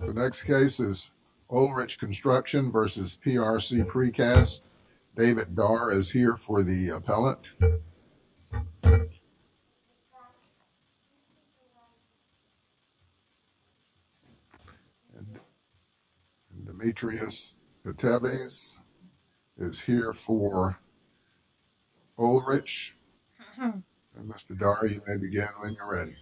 The next case is Oelrich Construction v. PRC Precast. David Darr is here for the appellate, and Demetrius Keteves is here for Oelrich. Mr. Darr, you may begin when you're ready.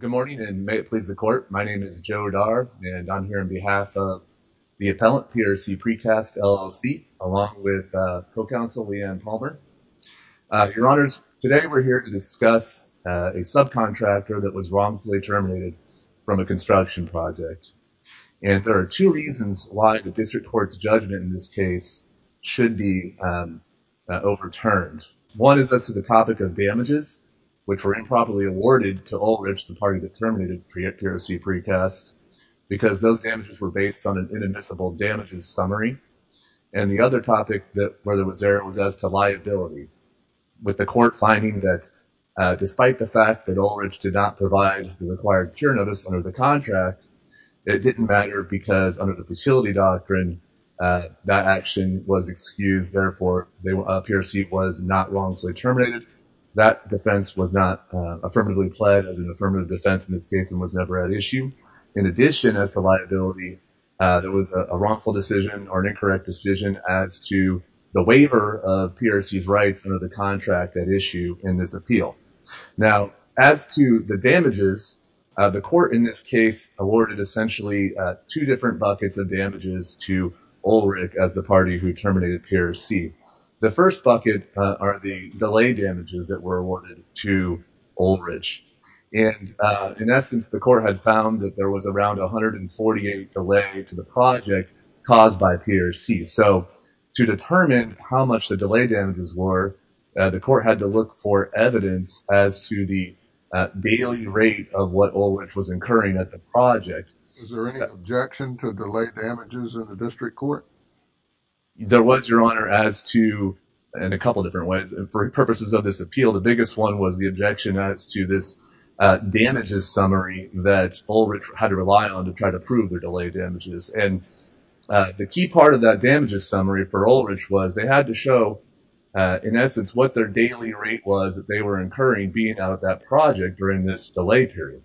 Good morning, and may it please the court. My name is Joe Darr, and I'm here on behalf of the appellant, PRC Precast, LLC, along with co-counsel Leigh Ann Palmer. Your Honors, today we're here to discuss a subcontractor that was wrongfully terminated from a construction project. And there are two reasons why the district court's judgment in this case should be overturned. One is as to the topic of damages, which were improperly awarded to Oelrich, the party that terminated PRC Precast, because those damages were based on an inadmissible damages summary. And the other topic that was there was as to liability, with the court finding that despite the fact that Oelrich did not provide the required cure notice under the contract, it didn't matter because under the futility doctrine, that action was excused. Therefore, PRC was not wrongfully terminated. That defense was not affirmatively pled as an affirmative defense in this case and was never at issue. In addition, as to liability, there was a wrongful decision or an incorrect decision as to the waiver of PRC's rights under the contract at issue in this appeal. Now, as to the damages, the court in this case awarded essentially two different buckets of damages to Oelrich as the party who terminated PRC. The first bucket are the delay damages that were awarded to Oelrich. And in essence, the court had found that there was around 148 delay to the project caused by PRC. So to determine how much the delay damages were, the court had to look for evidence as to the daily rate of what Oelrich was incurring at the project. Is there any objection to delay damages in the district court? There was, Your Honor, as to, in a couple of different ways. For purposes of this appeal, the biggest one was the objection as to this damages summary that Oelrich had to rely on to try to prove their delay damages. And the key part of that damages summary for Oelrich was they had to show, in essence, what their daily rate was that they were incurring being out of that project during this delay period.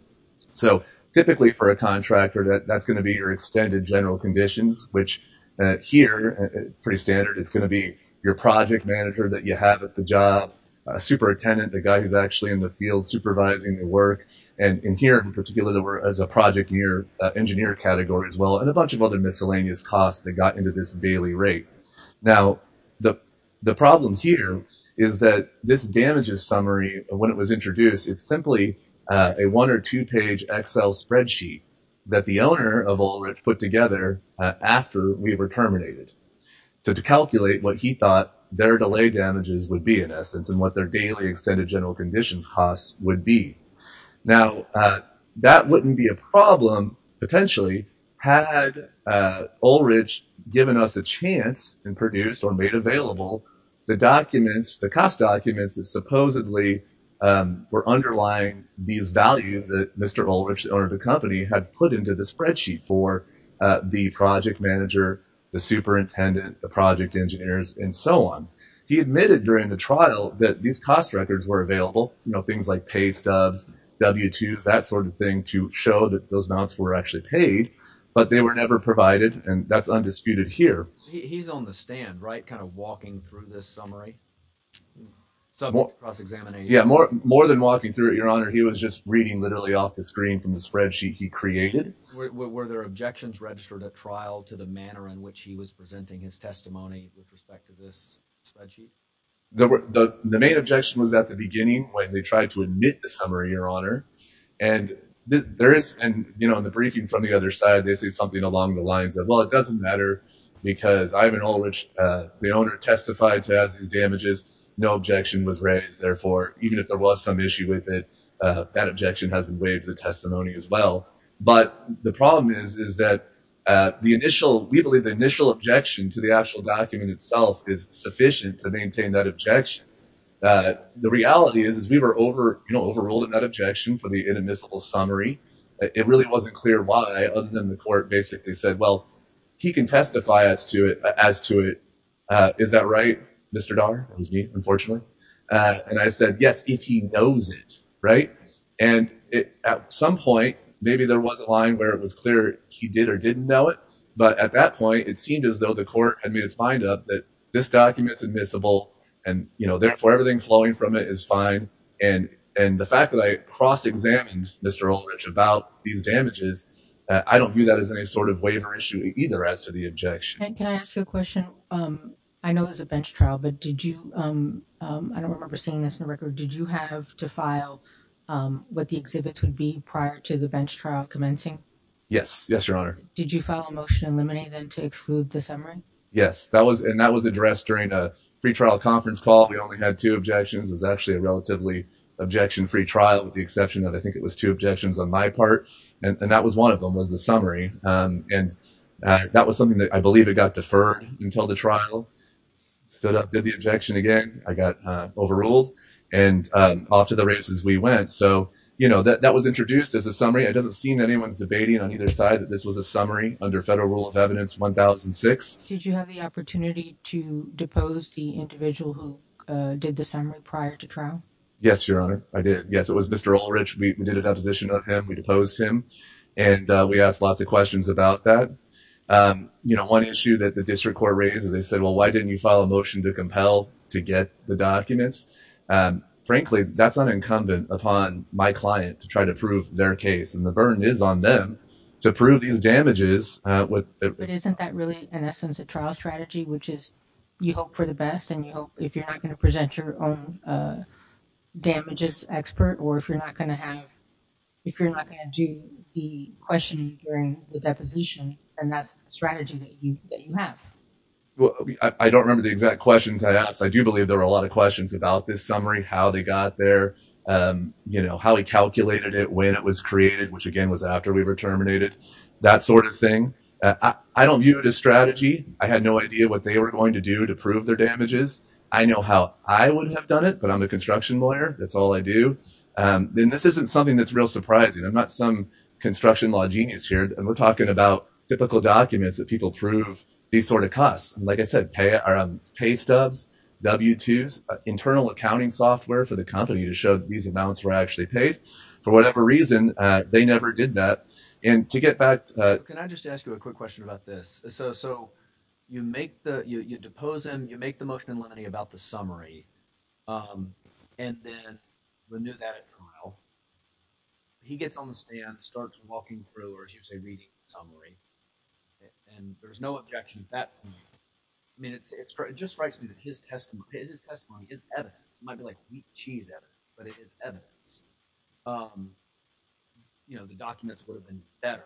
So typically for a contractor, that's going to be your extended general conditions, which here, pretty standard, it's going to be your project manager that you have at the job, a superintendent, the guy who's actually in the field supervising the work. And in here, in particular, there was a project engineer category as well and a bunch of other miscellaneous costs that got into this daily rate. Now, the problem here is that this damages summary, when it was introduced, it's simply a one or two-page Excel spreadsheet that the owner of Oelrich put together after we were terminated to calculate what he thought their delay damages would be, in essence, and what their daily extended general conditions costs would be. Now, that wouldn't be a problem, potentially, had Oelrich given us a chance and produced or made available the documents, the cost documents that supposedly were underlying these values that Mr. Oelrich, the owner of the company, had put into the spreadsheet for the project manager, the superintendent, the project engineers, and so on. He admitted during the trial that these cost records were available, you know, things like pay stubs, W-2s, that sort of thing, to show that those amounts were actually paid, but they were never provided, and that's undisputed here. He's on the stand, right, kind of walking through this summary, subject to cross-examination? Yeah, more than walking through it, Your Honor. He was just reading literally off the screen from the spreadsheet he created. Were there objections registered at trial to the manner in which he was presenting his testimony with respect to this spreadsheet? The main objection was at the beginning when they tried to admit the summary, Your Honor. And there is – and, you know, in the briefing from the other side, they say something along the lines of, well, it doesn't matter because Ivan Oelrich, the owner, testified to as his damages. No objection was raised. Therefore, even if there was some issue with it, that objection hasn't waived the testimony as well. But the problem is, is that the initial – we believe the initial objection to the actual document itself is sufficient to maintain that objection. The reality is, is we were over – you know, overruled in that objection for the inadmissible summary. It really wasn't clear why other than the court basically said, well, he can testify as to it. Is that right, Mr. Dahmer? That was me, unfortunately. And I said, yes, if he knows it, right? And at some point, maybe there was a line where it was clear he did or didn't know it, but at that point it seemed as though the court had made its mind up that this document is admissible and, you know, therefore everything flowing from it is fine. And the fact that I cross-examined Mr. Oelrich about these damages, I don't view that as any sort of waiver issue either as to the objection. Can I ask you a question? I know it was a bench trial, but did you – I don't remember seeing this in the record. Did you have to file what the exhibits would be prior to the bench trial commencing? Yes. Yes, Your Honor. Did you file a motion to eliminate them to exclude the summary? Yes. And that was addressed during a pretrial conference call. We only had two objections. It was actually a relatively objection-free trial with the exception that I think it was two objections on my part. And that was one of them, was the summary. And that was something that I believe it got deferred until the trial. Stood up, did the objection again. I got overruled. And off to the races we went. So, you know, that was introduced as a summary. It doesn't seem anyone's debating on either side that this was a summary under Federal Rule of Evidence 1006. Did you have the opportunity to depose the individual who did the summary prior to trial? Yes, Your Honor. I did. Yes, it was Mr. Oelrich. We did a deposition of him. We deposed him. And we asked lots of questions about that. You know, one issue that the district court raised is they said, well, why didn't you file a motion to compel to get the documents? Frankly, that's unencumbered upon my client to try to prove their case. And the burden is on them to prove these damages. But isn't that really, in essence, a trial strategy, which is you hope for the best and you hope if you're not going to present your own damages expert or if you're not going to do the questioning during the deposition, then that's a strategy that you have. I don't remember the exact questions I asked. I do believe there were a lot of questions about this summary, how they got there, you know, how he calculated it, when it was created, which, again, was after we were terminated, that sort of thing. I don't view it as strategy. I had no idea what they were going to do to prove their damages. I know how I would have done it, but I'm the construction lawyer. That's all I do. And this isn't something that's real surprising. I'm not some construction law genius here. And we're talking about typical documents that people prove these sort of costs. Like I said, pay stubs, W-2s, internal accounting software for the company to show that these amounts were actually paid. For whatever reason, they never did that. And to get back to that. Can I just ask you a quick question about this? So you make the ‑‑ you depose him, you make the motion in limine about the summary, and then renew that at trial. He gets on the stand, starts walking through, or as you say, reading the summary, and there's no objection at that point. I mean, it just strikes me that his testimony is evidence. It might be like wheat cheese evidence, but it is evidence. You know, the documents would have been better.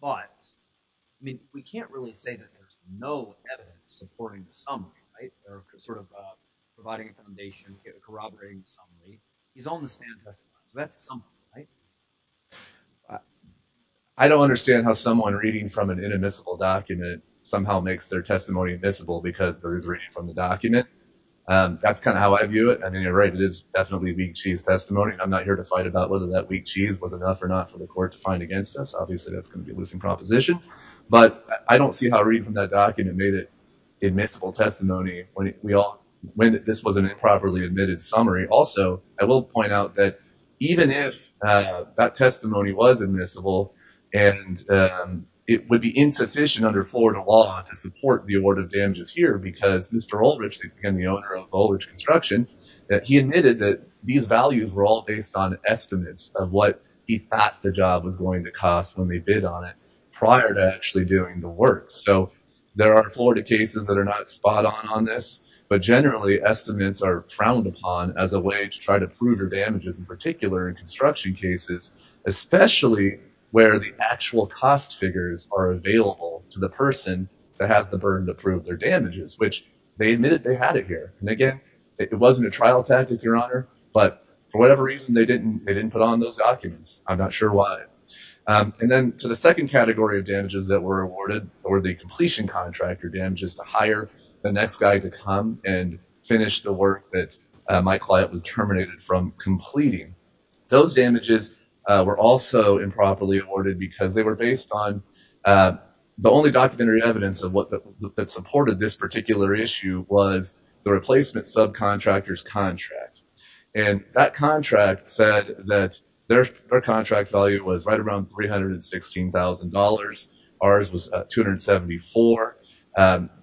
But, I mean, we can't really say that there's no evidence supporting the summary, right? Or sort of providing a foundation, corroborating the summary. He's on the stand testifying. So that's summary, right? I don't understand how someone reading from an inadmissible document somehow makes their testimony admissible because it was written from the document. That's kind of how I view it. I mean, you're right. It is definitely wheat cheese testimony. I'm not here to fight about whether that wheat cheese was enough or not for the court to find against us. Obviously, that's going to be a losing proposition. But I don't see how reading from that document made it admissible testimony when this was an improperly admitted summary. Also, I will point out that even if that testimony was admissible and it would be insufficient under Florida law to support the award of damages here, because Mr. Oldridge, the owner of Oldridge Construction, he admitted that these values were all based on estimates of what he thought the job was going to cost when they bid on it prior to actually doing the work. So there are Florida cases that are not spot on on this. But generally, estimates are frowned upon as a way to try to prove your damages, in particular in construction cases, especially where the actual cost figures are available to the person that has the burden to prove their damages, which they admitted they had it here. And again, it wasn't a trial tactic, Your Honor, but for whatever reason, they didn't put on those documents. I'm not sure why. And then to the second category of damages that were awarded were the completion contractor damages to hire the next guy to come and finish the work that my client was terminated from completing. Those damages were also improperly awarded because they were based on the only documentary evidence that supported this particular issue was the replacement subcontractor's contract. And that contract said that their contract value was right around $316,000. Ours was $274,000.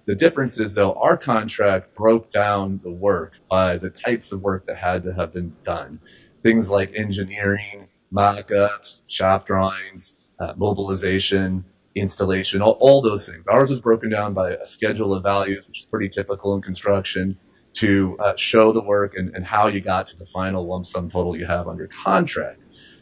The difference is, though, our contract broke down the work by the types of work that had to have been done, things like engineering, mockups, shop drawings, mobilization, installation, all those things. Ours was broken down by a schedule of values, which is pretty typical in construction, to show the work and how you got to the final lump sum total you have on your contract.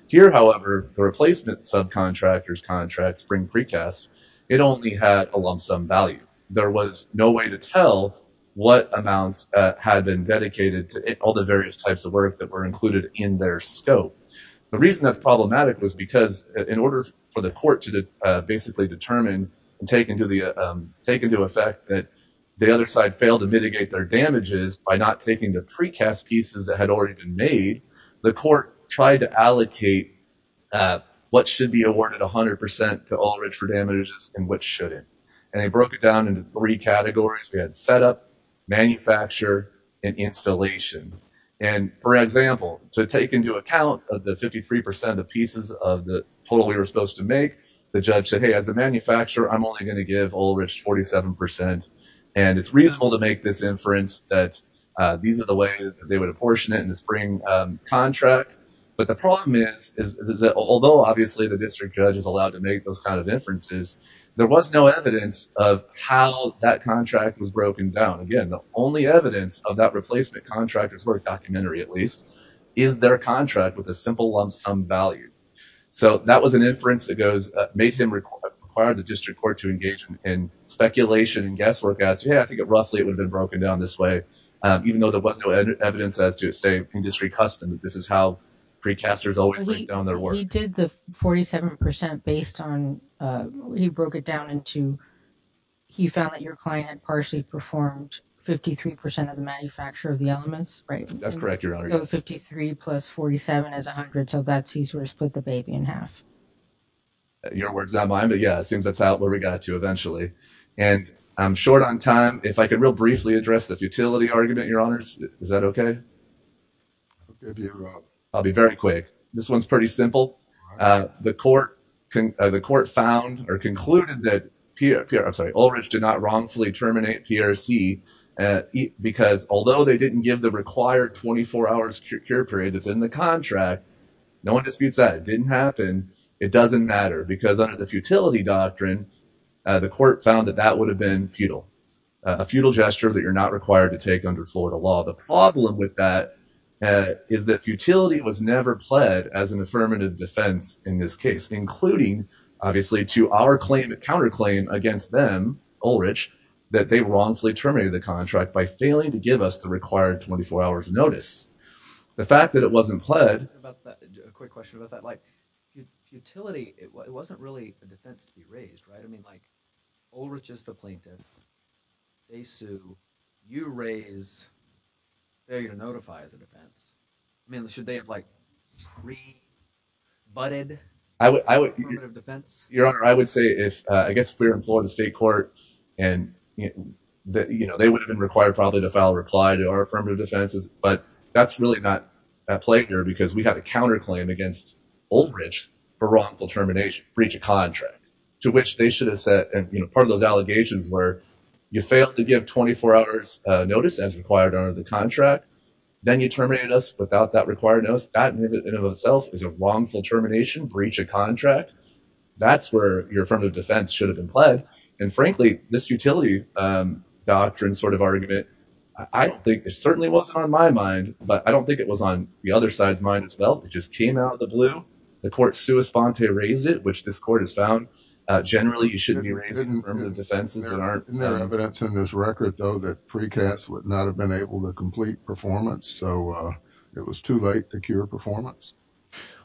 Here, however, the replacement subcontractor's contract spring precast, it only had a lump sum value. There was no way to tell what amounts had been dedicated to all the various types of work that were included in their scope. The reason that's problematic was because in order for the court to basically determine and take into effect that the other side failed to mitigate their damages by not taking the precast pieces that had already been made, the court tried to allocate what should be awarded 100% to All Ridge for Damages and what shouldn't. And they broke it down into three categories. We had setup, manufacture, and installation. And, for example, to take into account of the 53% of pieces of the total we were supposed to make, the judge said, hey, as a manufacturer, I'm only going to give All Ridge 47%. And it's reasonable to make this inference that these are the way they would apportion it in the spring contract. But the problem is, although obviously the district judge is allowed to make those kind of inferences, there was no evidence of how that contract was broken down. Again, the only evidence of that replacement contractor's work, documentary at least, is their contract with a simple lump sum value. So that was an inference that made him require the district court to engage in speculation and guesswork as, yeah, I think roughly it would have been broken down this way, even though there was no evidence as to, say, industry customs. This is how precasters always break down their work. He did the 47% based on, he broke it down into, he found that your client had partially performed 53% of the manufacture of the elements, right? That's correct, Your Honor. 53 plus 47 is 100, so that's, he sort of split the baby in half. Your word's not mine, but, yeah, it seems that's out where we got to eventually. And I'm short on time. If I could real briefly address the futility argument, Your Honors. Is that okay? I'll be very quick. This one's pretty simple. The court found or concluded that, I'm sorry, Ulrich did not wrongfully terminate PRC because although they didn't give the required 24-hour secure period that's in the contract, no one disputes that. It didn't happen. It doesn't matter because under the futility doctrine, the court found that that would have been futile, a futile gesture that you're not required to take under Florida law. The problem with that is that futility was never pled as an affirmative defense in this case, including, obviously, to our counterclaim against them, Ulrich, that they wrongfully terminated the contract by failing to give us the required 24-hour notice. The fact that it wasn't pled… A quick question about that. Futility, it wasn't really a defense to be raised, right? Ulrich is the plaintiff. They sue. You raise failure to notify as a defense. Should they have pre-budded affirmative defense? I guess if we were in Florida State Court, they would have been required probably to file a reply to our affirmative defenses. But that's really not a plagiarism because we have a counterclaim against Ulrich for wrongful termination, breach of contract, to which they should have said part of those allegations were you failed to give 24-hour notice as required under the contract. Then you terminated us without that required notice. That in and of itself is a wrongful termination, breach of contract. That's where your affirmative defense should have been pled. And, frankly, this utility doctrine sort of argument, I think it certainly wasn't on my mind, but I don't think it was on the other side's mind as well. It just came out of the blue. The court sua sponte raised it, which this court has found generally you shouldn't be raising affirmative defenses that aren't… Isn't there evidence in this record, though, that precasts would not have been able to complete performance, so it was too late to cure performance?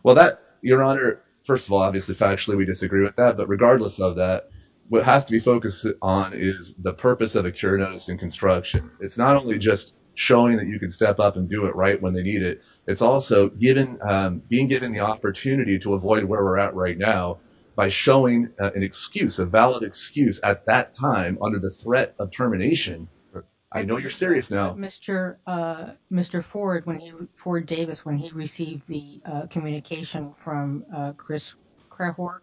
Well, Your Honor, first of all, obviously, factually, we disagree with that. But regardless of that, what has to be focused on is the purpose of a cure notice in construction. It's not only just showing that you can step up and do it right when they need it. It's also being given the opportunity to avoid where we're at right now by showing an excuse, a valid excuse at that time under the threat of termination. I know you're serious now. Mr. Ford, Ford Davis, when he received the communication from Chris Krehor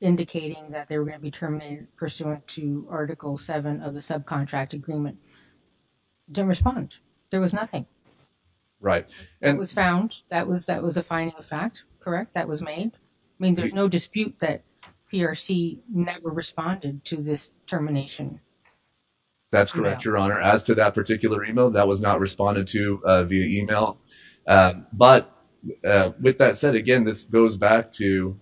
indicating that they were going to be terminated pursuant to Article 7 of the subcontract agreement, didn't respond. There was nothing. Right. It was found. That was a finding of fact, correct? That was made? I mean, there's no dispute that PRC never responded to this termination. That's correct, Your Honor. As to that particular email, that was not responded to via email. But with that said, again, this goes back to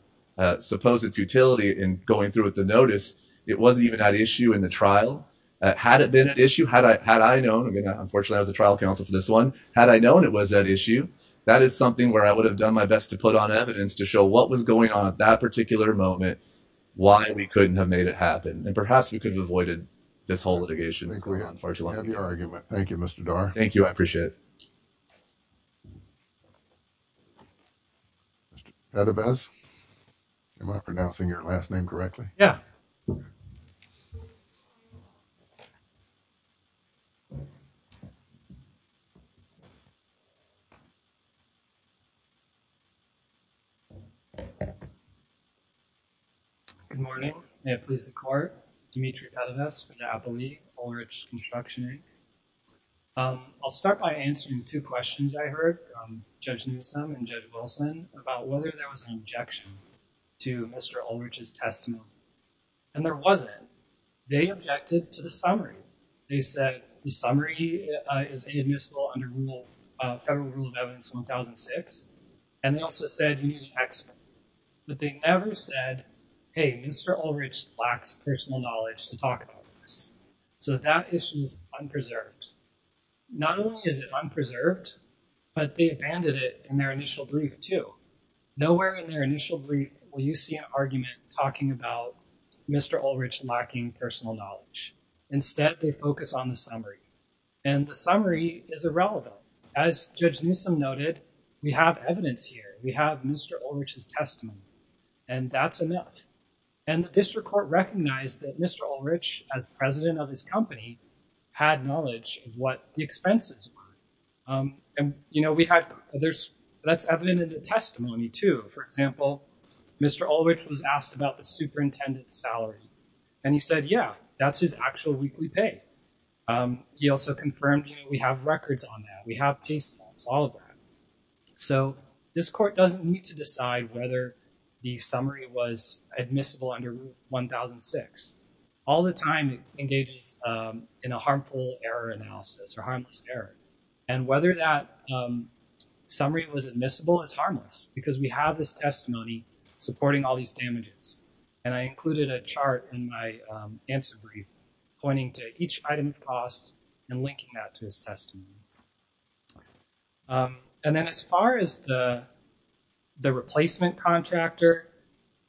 supposed futility in going through with the notice. It wasn't even an issue in the trial. Had it been an issue, had I known, unfortunately, I was the trial counsel for this one, had I known it was an issue, that is something where I would have done my best to put on evidence to show what was going on at that particular moment, why we couldn't have made it happen. And perhaps we could have avoided this whole litigation. I think we have the argument. Thank you, Mr. Dar. Thank you. I appreciate it. Mr. Edebes, am I pronouncing your last name correctly? Yeah. Good morning. Thank you. May it please the Court. Dimitri Edebes for the Apple League, Ulrich Construction Inc. I'll start by answering two questions I heard, Judge Newsom and Judge Wilson, about whether there was an objection to Mr. Ulrich's testimony. And there wasn't. They objected to the summary. They said the summary is inadmissible under Federal Rule of Evidence 1006. And they also said you need an explanation. But they never said, hey, Mr. Ulrich lacks personal knowledge to talk about this. So that issue is unpreserved. Not only is it unpreserved, but they abandoned it in their initial brief, too. Nowhere in their initial brief will you see an argument talking about Mr. Ulrich lacking personal knowledge. Instead, they focus on the summary. And the summary is irrelevant. So, as Judge Newsom noted, we have evidence here. We have Mr. Ulrich's testimony. And that's enough. And the district court recognized that Mr. Ulrich, as president of his company, had knowledge of what the expenses were. And, you know, we had others. That's evident in the testimony, too. For example, Mr. Ulrich was asked about the superintendent's salary. And he said, yeah, that's his actual weekly pay. He also confirmed, you know, we have records on that. We have pay stubs, all of that. So this court doesn't need to decide whether the summary was admissible under Rule 1006. All the time it engages in a harmful error analysis or harmless error. And whether that summary was admissible is harmless because we have this testimony supporting all these damages. And I included a chart in my answer brief pointing to each item of cost and linking that to his testimony. And then as far as the replacement contractor,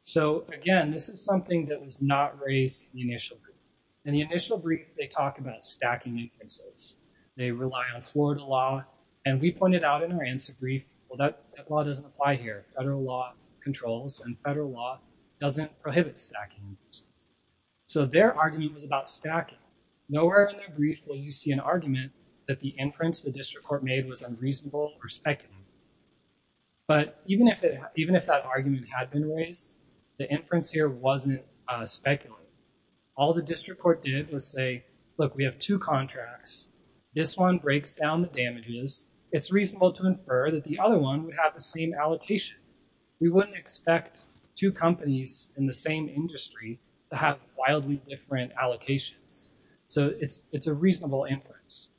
so, again, this is something that was not raised in the initial brief. In the initial brief, they talk about stacking increases. They rely on Florida law. And we pointed out in our answer brief, well, that law doesn't apply here. Federal law controls and federal law doesn't prohibit stacking increases. So their argument was about stacking. Nowhere in their brief will you see an argument that the inference the district court made was unreasonable or speculative. But even if that argument had been raised, the inference here wasn't speculative. All the district court did was say, look, we have two contracts. This one breaks down the damages. It's reasonable to infer that the other one would have the same allocation. We wouldn't expect two companies in the same industry to have wildly different allocations. So it's a reasonable inference.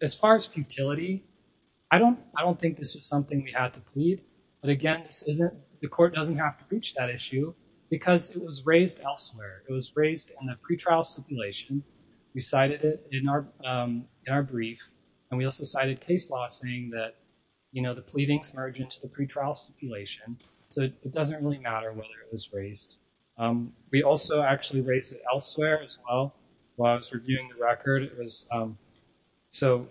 As far as futility, I don't think this was something we had to plead. But, again, the court doesn't have to reach that issue because it was raised elsewhere. It was raised in a pretrial stipulation. We cited it in our brief. And we also cited case law saying that the pleadings merge into the pretrial stipulation. So it doesn't really matter whether it was raised. We also actually raised it elsewhere as well while I was reviewing the record. So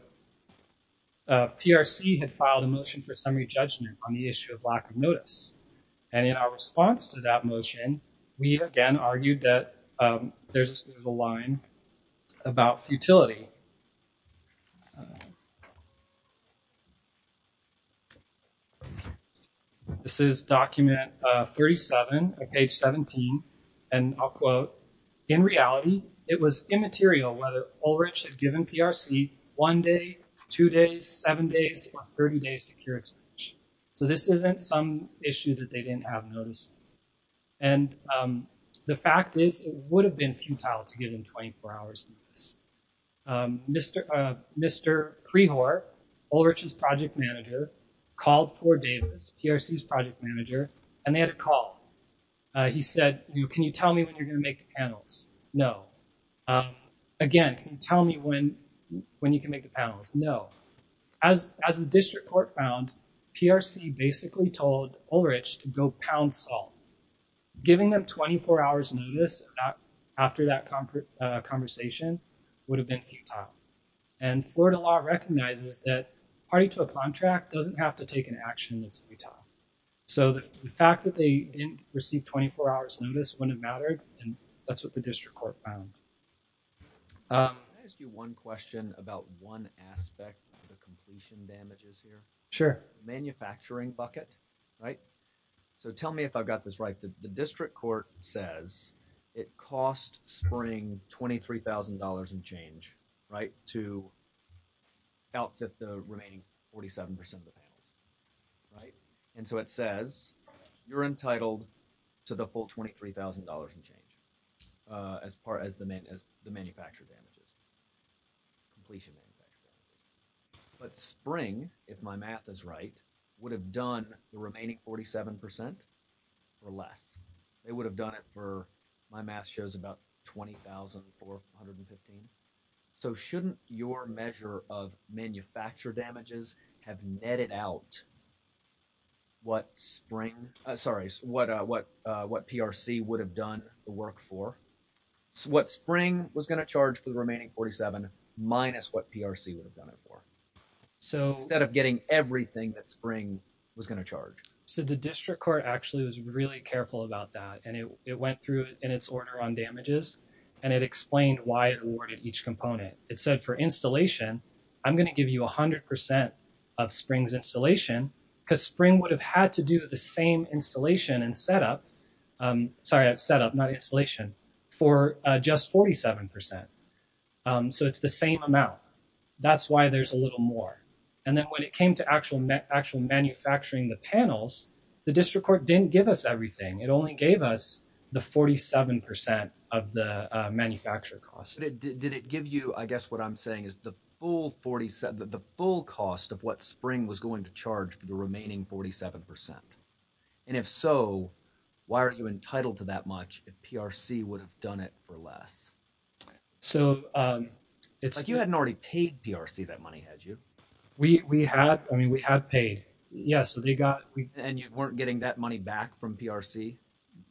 TRC had filed a motion for summary judgment on the issue of lack of notice. And in our response to that motion, we, again, argued that there's a line about futility. This is document 37 of page 17. And I'll quote, in reality, it was immaterial whether Ulrich had given PRC one day, two days, seven days, or 30 days to cure it. So this isn't some issue that they didn't have notice. And the fact is, it would have been futile to give him 24 hours notice. Mr. Prehor, Ulrich's project manager, called Ford Davis, PRC's project manager, and they had a call. He said, can you tell me when you're going to make the panels? No. Again, can you tell me when you can make the panels? No. As the district court found, PRC basically told Ulrich to go pound salt. Giving them 24 hours notice after that conversation would have been futile. And Florida law recognizes that party to a contract doesn't have to take an action that's futile. So the fact that they didn't receive 24 hours notice wouldn't have mattered, and that's what the district court found. Can I ask you one question about one aspect of the completion damages here? Sure. Manufacturing bucket, right? So tell me if I've got this right. The district court says it cost Spring $23,000 and change, right, to outfit the remaining 47%. Right. And so it says you're entitled to the full $23,000 and change as far as the manufacturer damages. Completion. But Spring, if my math is right, would have done the remaining 47% or less. They would have done it for, my math shows, about $20,415. So shouldn't your measure of manufacturer damages have netted out what PRC would have done the work for? What Spring was going to charge for the remaining 47 minus what PRC would have done it for. Instead of getting everything that Spring was going to charge. So the district court actually was really careful about that, and it went through in its order on damages, and it explained why it awarded each component. It said for installation, I'm going to give you 100% of Spring's installation because Spring would have had to do the same installation and setup. Sorry, setup, not installation, for just 47%. So it's the same amount. That's why there's a little more. And then when it came to actual manufacturing the panels, the district court didn't give us everything. It only gave us the 47% of the manufacturer costs. Did it give you, I guess what I'm saying is the full 47, the full cost of what Spring was going to charge for the remaining 47%. And if so, why are you entitled to that much if PRC would have done it for less? So it's like you hadn't already paid PRC that money, had you? We had. I mean, we had paid. Yes. And you weren't getting that money back from PRC?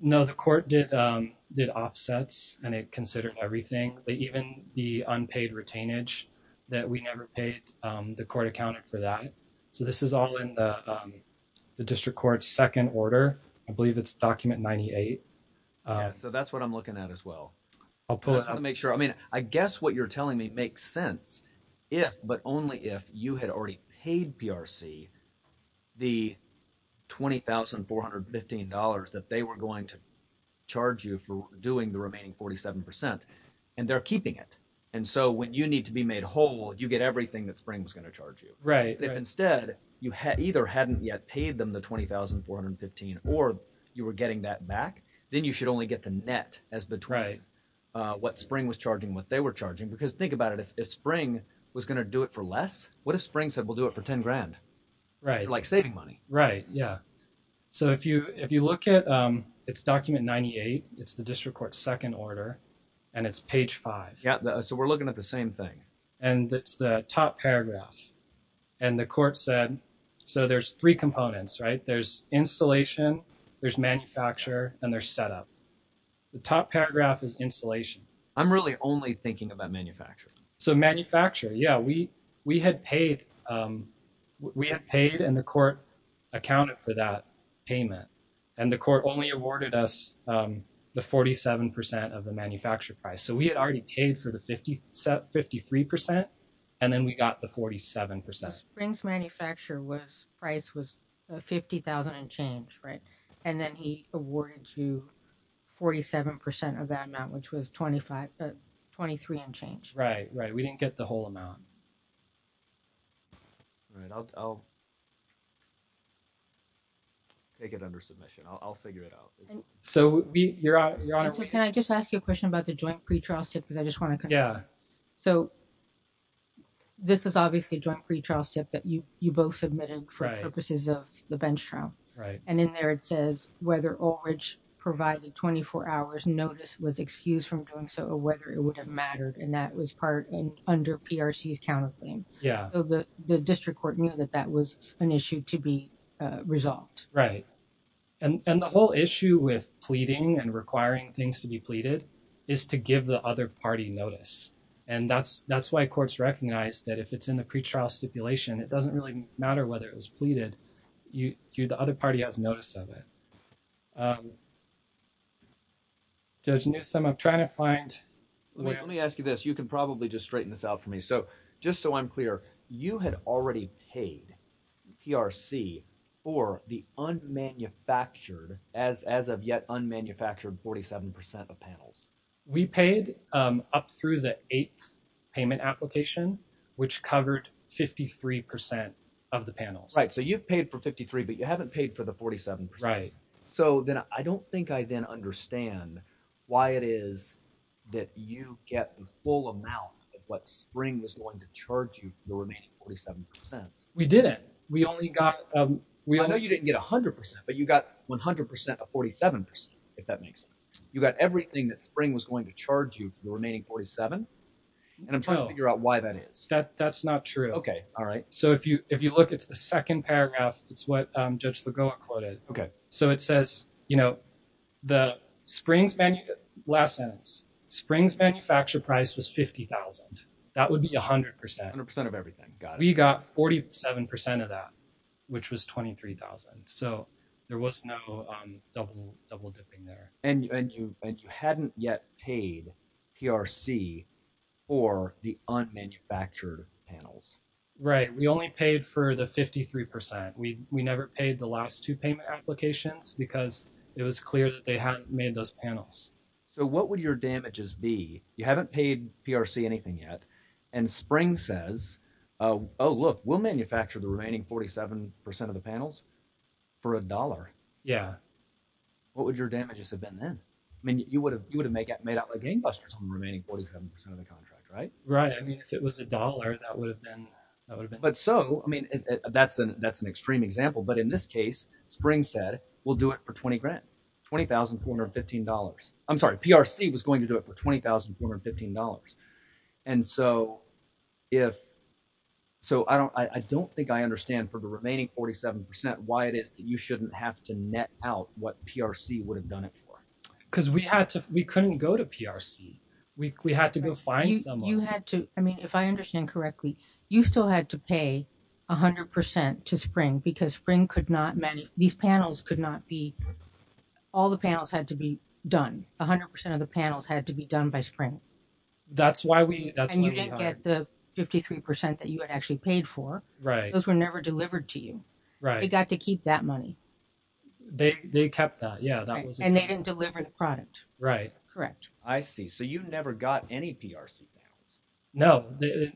No, the court did offsets and it considered everything, even the unpaid retainage that we never paid. The court accounted for that. So this is all in the district court's second order. I believe it's document 98. So that's what I'm looking at as well. I'll make sure. I mean, I guess what you're telling me makes sense if, but only if you had already paid PRC the $20,415 that they were going to charge you for doing the remaining 47%. And they're keeping it. And so when you need to be made whole, you get everything that Spring was going to charge you. Right. If instead you either hadn't yet paid them the $20,415 or you were getting that back, then you should only get the net as between what Spring was charging, what they were charging. Because think about it. If Spring was going to do it for less, what if Spring said, we'll do it for $10,000? Right. Like saving money. Right. Yeah. So if you look at, it's document 98. It's the district court's second order. And it's page five. So we're looking at the same thing. And it's the top paragraph. And the court said, so there's three components, right? There's installation, there's manufacture, and there's setup. The top paragraph is installation. I'm really only thinking about manufacture. So manufacture, yeah. We had paid, and the court accounted for that payment. And the court only awarded us the 47% of the manufacture price. So we had already paid for the 53%, and then we got the 47%. So Spring's manufacture price was $50,000 and change, right? And then he awarded you 47% of that amount, which was $23 and change. Right, right. We didn't get the whole amount. All right. I'll take it under submission. I'll figure it out. So your honor, can I just ask you a question about the joint pretrial stipend? I just want to, yeah. So. This is obviously joint pretrial step that you, you both submitted for purposes of the bench trial. Right. And in there, it says whether. Provided 24 hours notice was excused from doing so, or whether it would have mattered. And that was part in under PRC's counterclaim. Yeah. The district court knew that that was an issue to be resolved. Right. And the whole issue with pleading and requiring things to be pleaded is to give the other party notice. And that's, that's why courts recognize that if it's in the pretrial stipulation, it doesn't really matter whether it was pleaded. You do the other party has notice of it. Judge Newsome. I'm trying to find. Let me ask you this. You can probably just straighten this out for me. So just so I'm clear, I don't think I understand why it is that you get the full amount of what spring was going to charge you. For the panels. Right. So you've paid for 53, but you haven't paid for the 47. Right. So then I don't think I then understand. Why it is. That you get the full amount of what spring was going to charge you for the remaining 47%. We didn't, we only got, um, we, I know you didn't get a hundred percent, but you got 100% of 47. If that makes sense, you got everything that spring was going to charge you for the remaining 47. And I'm trying to figure out why that is that. That's not true. Okay. All right. So if you, if you look, it's the second paragraph, it's what judge Lagoa quoted. Okay. So it says, you know, The springs menu last sentence springs manufacture price was 50,000. That would be a hundred percent, a hundred percent of everything. We got 47% of that, which was 23,000. So there was no double double dipping there. And you hadn't yet paid PRC or the unmanufactured panels. Right. We only paid for the 53%. We, we never paid the last two payment applications because it was clear that they hadn't made those panels. So what would your damages be? You haven't paid PRC anything yet. And spring says, Oh, Oh, look, we'll manufacture the remaining 47% of the panels for a dollar. Yeah. What would your damages have been then? I mean, you would have, you would have made that made out like gangbusters on the remaining 47% of the contract. Right. Right. I mean, if it was a dollar, that would have been, that would have been, but so, I mean, that's an, that's an extreme example, but in this case, spring said, we'll do it for 20 grand, $20,415. I'm sorry. PRC was going to do it for $20,415. And so if, so I don't, I don't think I understand for the remaining 47% why it is that you shouldn't have to net out what PRC would have done it for. Cause we had to, we couldn't go to PRC. We had to go find someone. You had to, I mean, if I understand correctly, you still had to pay a hundred percent to spring because spring could not manage these panels could not be all the panels had to be done. A hundred percent of the panels had to be done by spring. That's why we didn't get the 53% that you had actually paid for. Right. Those were never delivered to you. Right. They got to keep that money. They kept that. Yeah. And they didn't deliver the product. Right. Correct. I see. So you never got any PRC panels. No,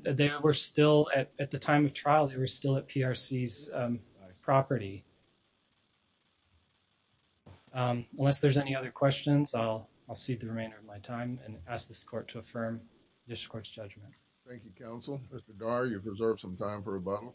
they were still at the time of trial. They were still at PRCs property. Unless there's any other questions, I'll, I'll see the remainder of my time and ask this court to affirm this court's judgment. Thank you. Counsel. Mr. Gar, you've reserved some time for a bottle.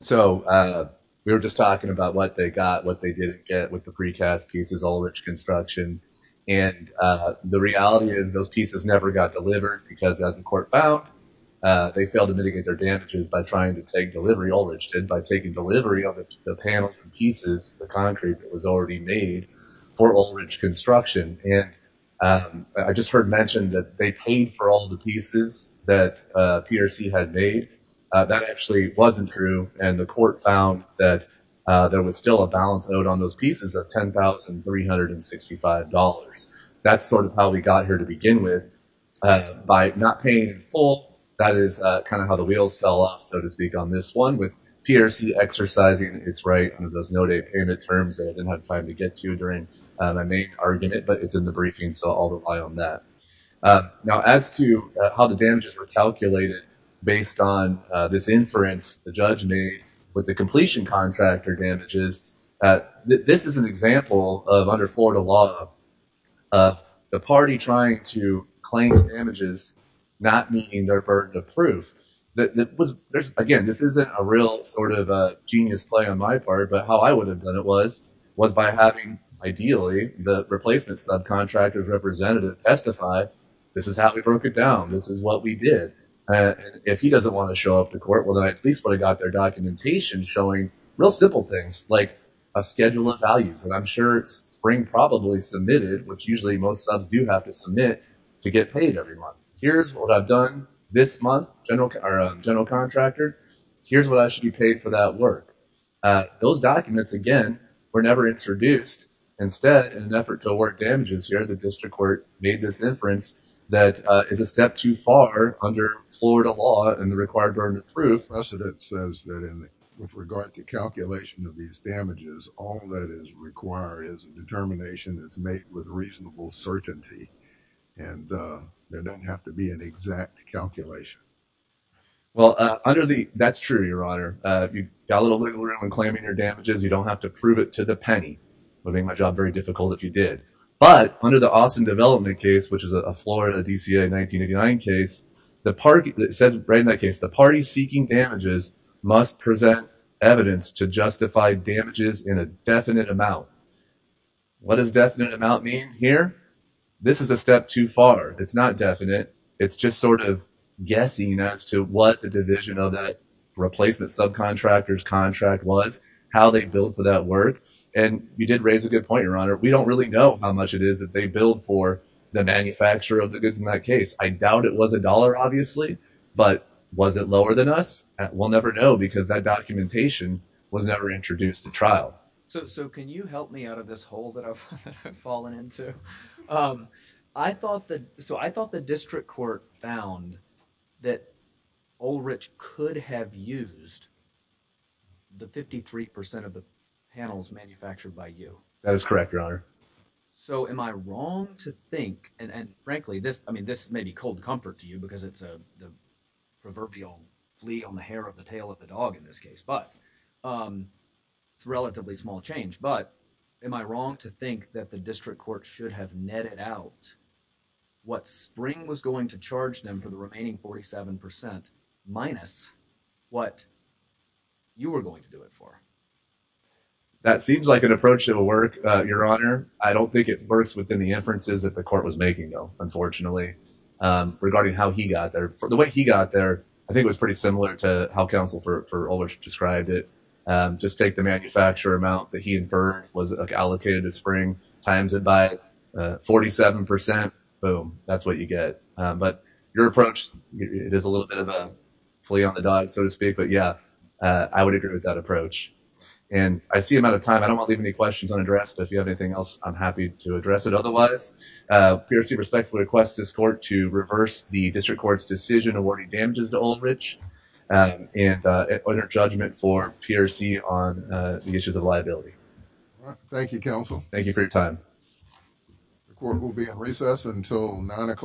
So, uh, we were just talking about what they got, what they didn't get with the precast pieces, all rich construction. And, uh, the reality is those pieces never got delivered because as the court found, uh, they failed to mitigate their damages by trying to take delivery. All rich did by taking delivery of the panels and pieces, the concrete that was already made for old rich construction. And, um, I just heard mentioned that they paid for all the pieces that, uh, that PRC had made, uh, that actually wasn't true. And the court found that, uh, there was still a balance out on those pieces of $10,365. That's sort of how we got here to begin with, uh, by not paying full, that is kind of how the wheels fell off. So to speak on this one with PRC, exercising it's right under those no day payment terms that I didn't have time to get to during my main argument, but it's in the briefing. So all the way on that, uh, now as to how the damages were calculated based on, uh, this inference, the judge made with the completion contractor damages that this is an example of under Florida law of the party trying to claim damages, not meeting their burden of proof that was there's again, this isn't a real sort of a genius play on my part, but how I would have done it was, was by having ideally the replacement subcontractors representative testify. This is how we broke it down. This is what we did. And if he doesn't want to show up to court, well then at least when I got their documentation, showing real simple things like a schedule of values. And I'm sure it's spring probably submitted, which usually most subs do have to submit to get paid every month. Here's what I've done this month, general general contractor. Here's what I should be paid for that work. Uh, those documents again, we're never introduced instead in an effort to work damages here. The district court made this inference that, uh, is a step too far under Florida law and the required burden of proof. President says that in regard to calculation of these damages, all that is required is a determination that's made with reasonable certainty and, uh, there doesn't have to be an exact calculation. Well, uh, under the, that's true. Your honor, uh, you got a little wiggle room in claiming your damages. You don't have to prove it to the penny would make my job very difficult if you did, but under the Austin development case, which is a Florida DCA in 1989 case, the party that says right in that case, the party seeking damages must present evidence to justify damages in a definite amount. What does definite amount mean here? This is a step too far. It's not definite. It's just sort of guessing as to what the division of that replacement subcontractors contract was, how they built for that work. And you did raise a good point, your honor. We don't really know how much it is that they build for the manufacturer of the goods in that case. I doubt it was a dollar obviously, but was it lower than us? We'll never know because that documentation was never introduced to trial. So, so can you help me out of this hole that I've fallen into? Um, I thought that, so I thought the district court found that all rich could have used the 53% of the panels manufactured by you. That is correct, your honor. So am I wrong to think, and frankly, this, I mean, this may be cold comfort to you because it's a proverbial flea on the hair of the tail of the dog in this case, but, um, it's relatively small change, but am I wrong to think that the district court should have netted out what spring was going to charge them for the remaining 47% minus what you were going to do it for? That seems like an approach that will work, uh, your honor. I don't think it works within the inferences that the court was making though, unfortunately, um, regarding how he got there for the way he got there, I think it was pretty similar to how counsel for, for older described it. Um, just take the manufacturer amount that he inferred was allocated to spring times it by, uh, 47%. Boom. That's what you get. Um, but your approach is a little bit of a flea on the dog, so to speak. But yeah, uh, I would agree with that approach and I see him out of time. I don't want to leave any questions unaddressed, but if you have anything else, I'm happy to address it. Otherwise, uh, PRC respectfully requests this court to reverse the district court's decision awarding damages to old rich, um, and uh, under judgment for PRC on, uh, the issues of liability. Thank you counsel. Thank you for your time. The court will be in recess until nine o'clock.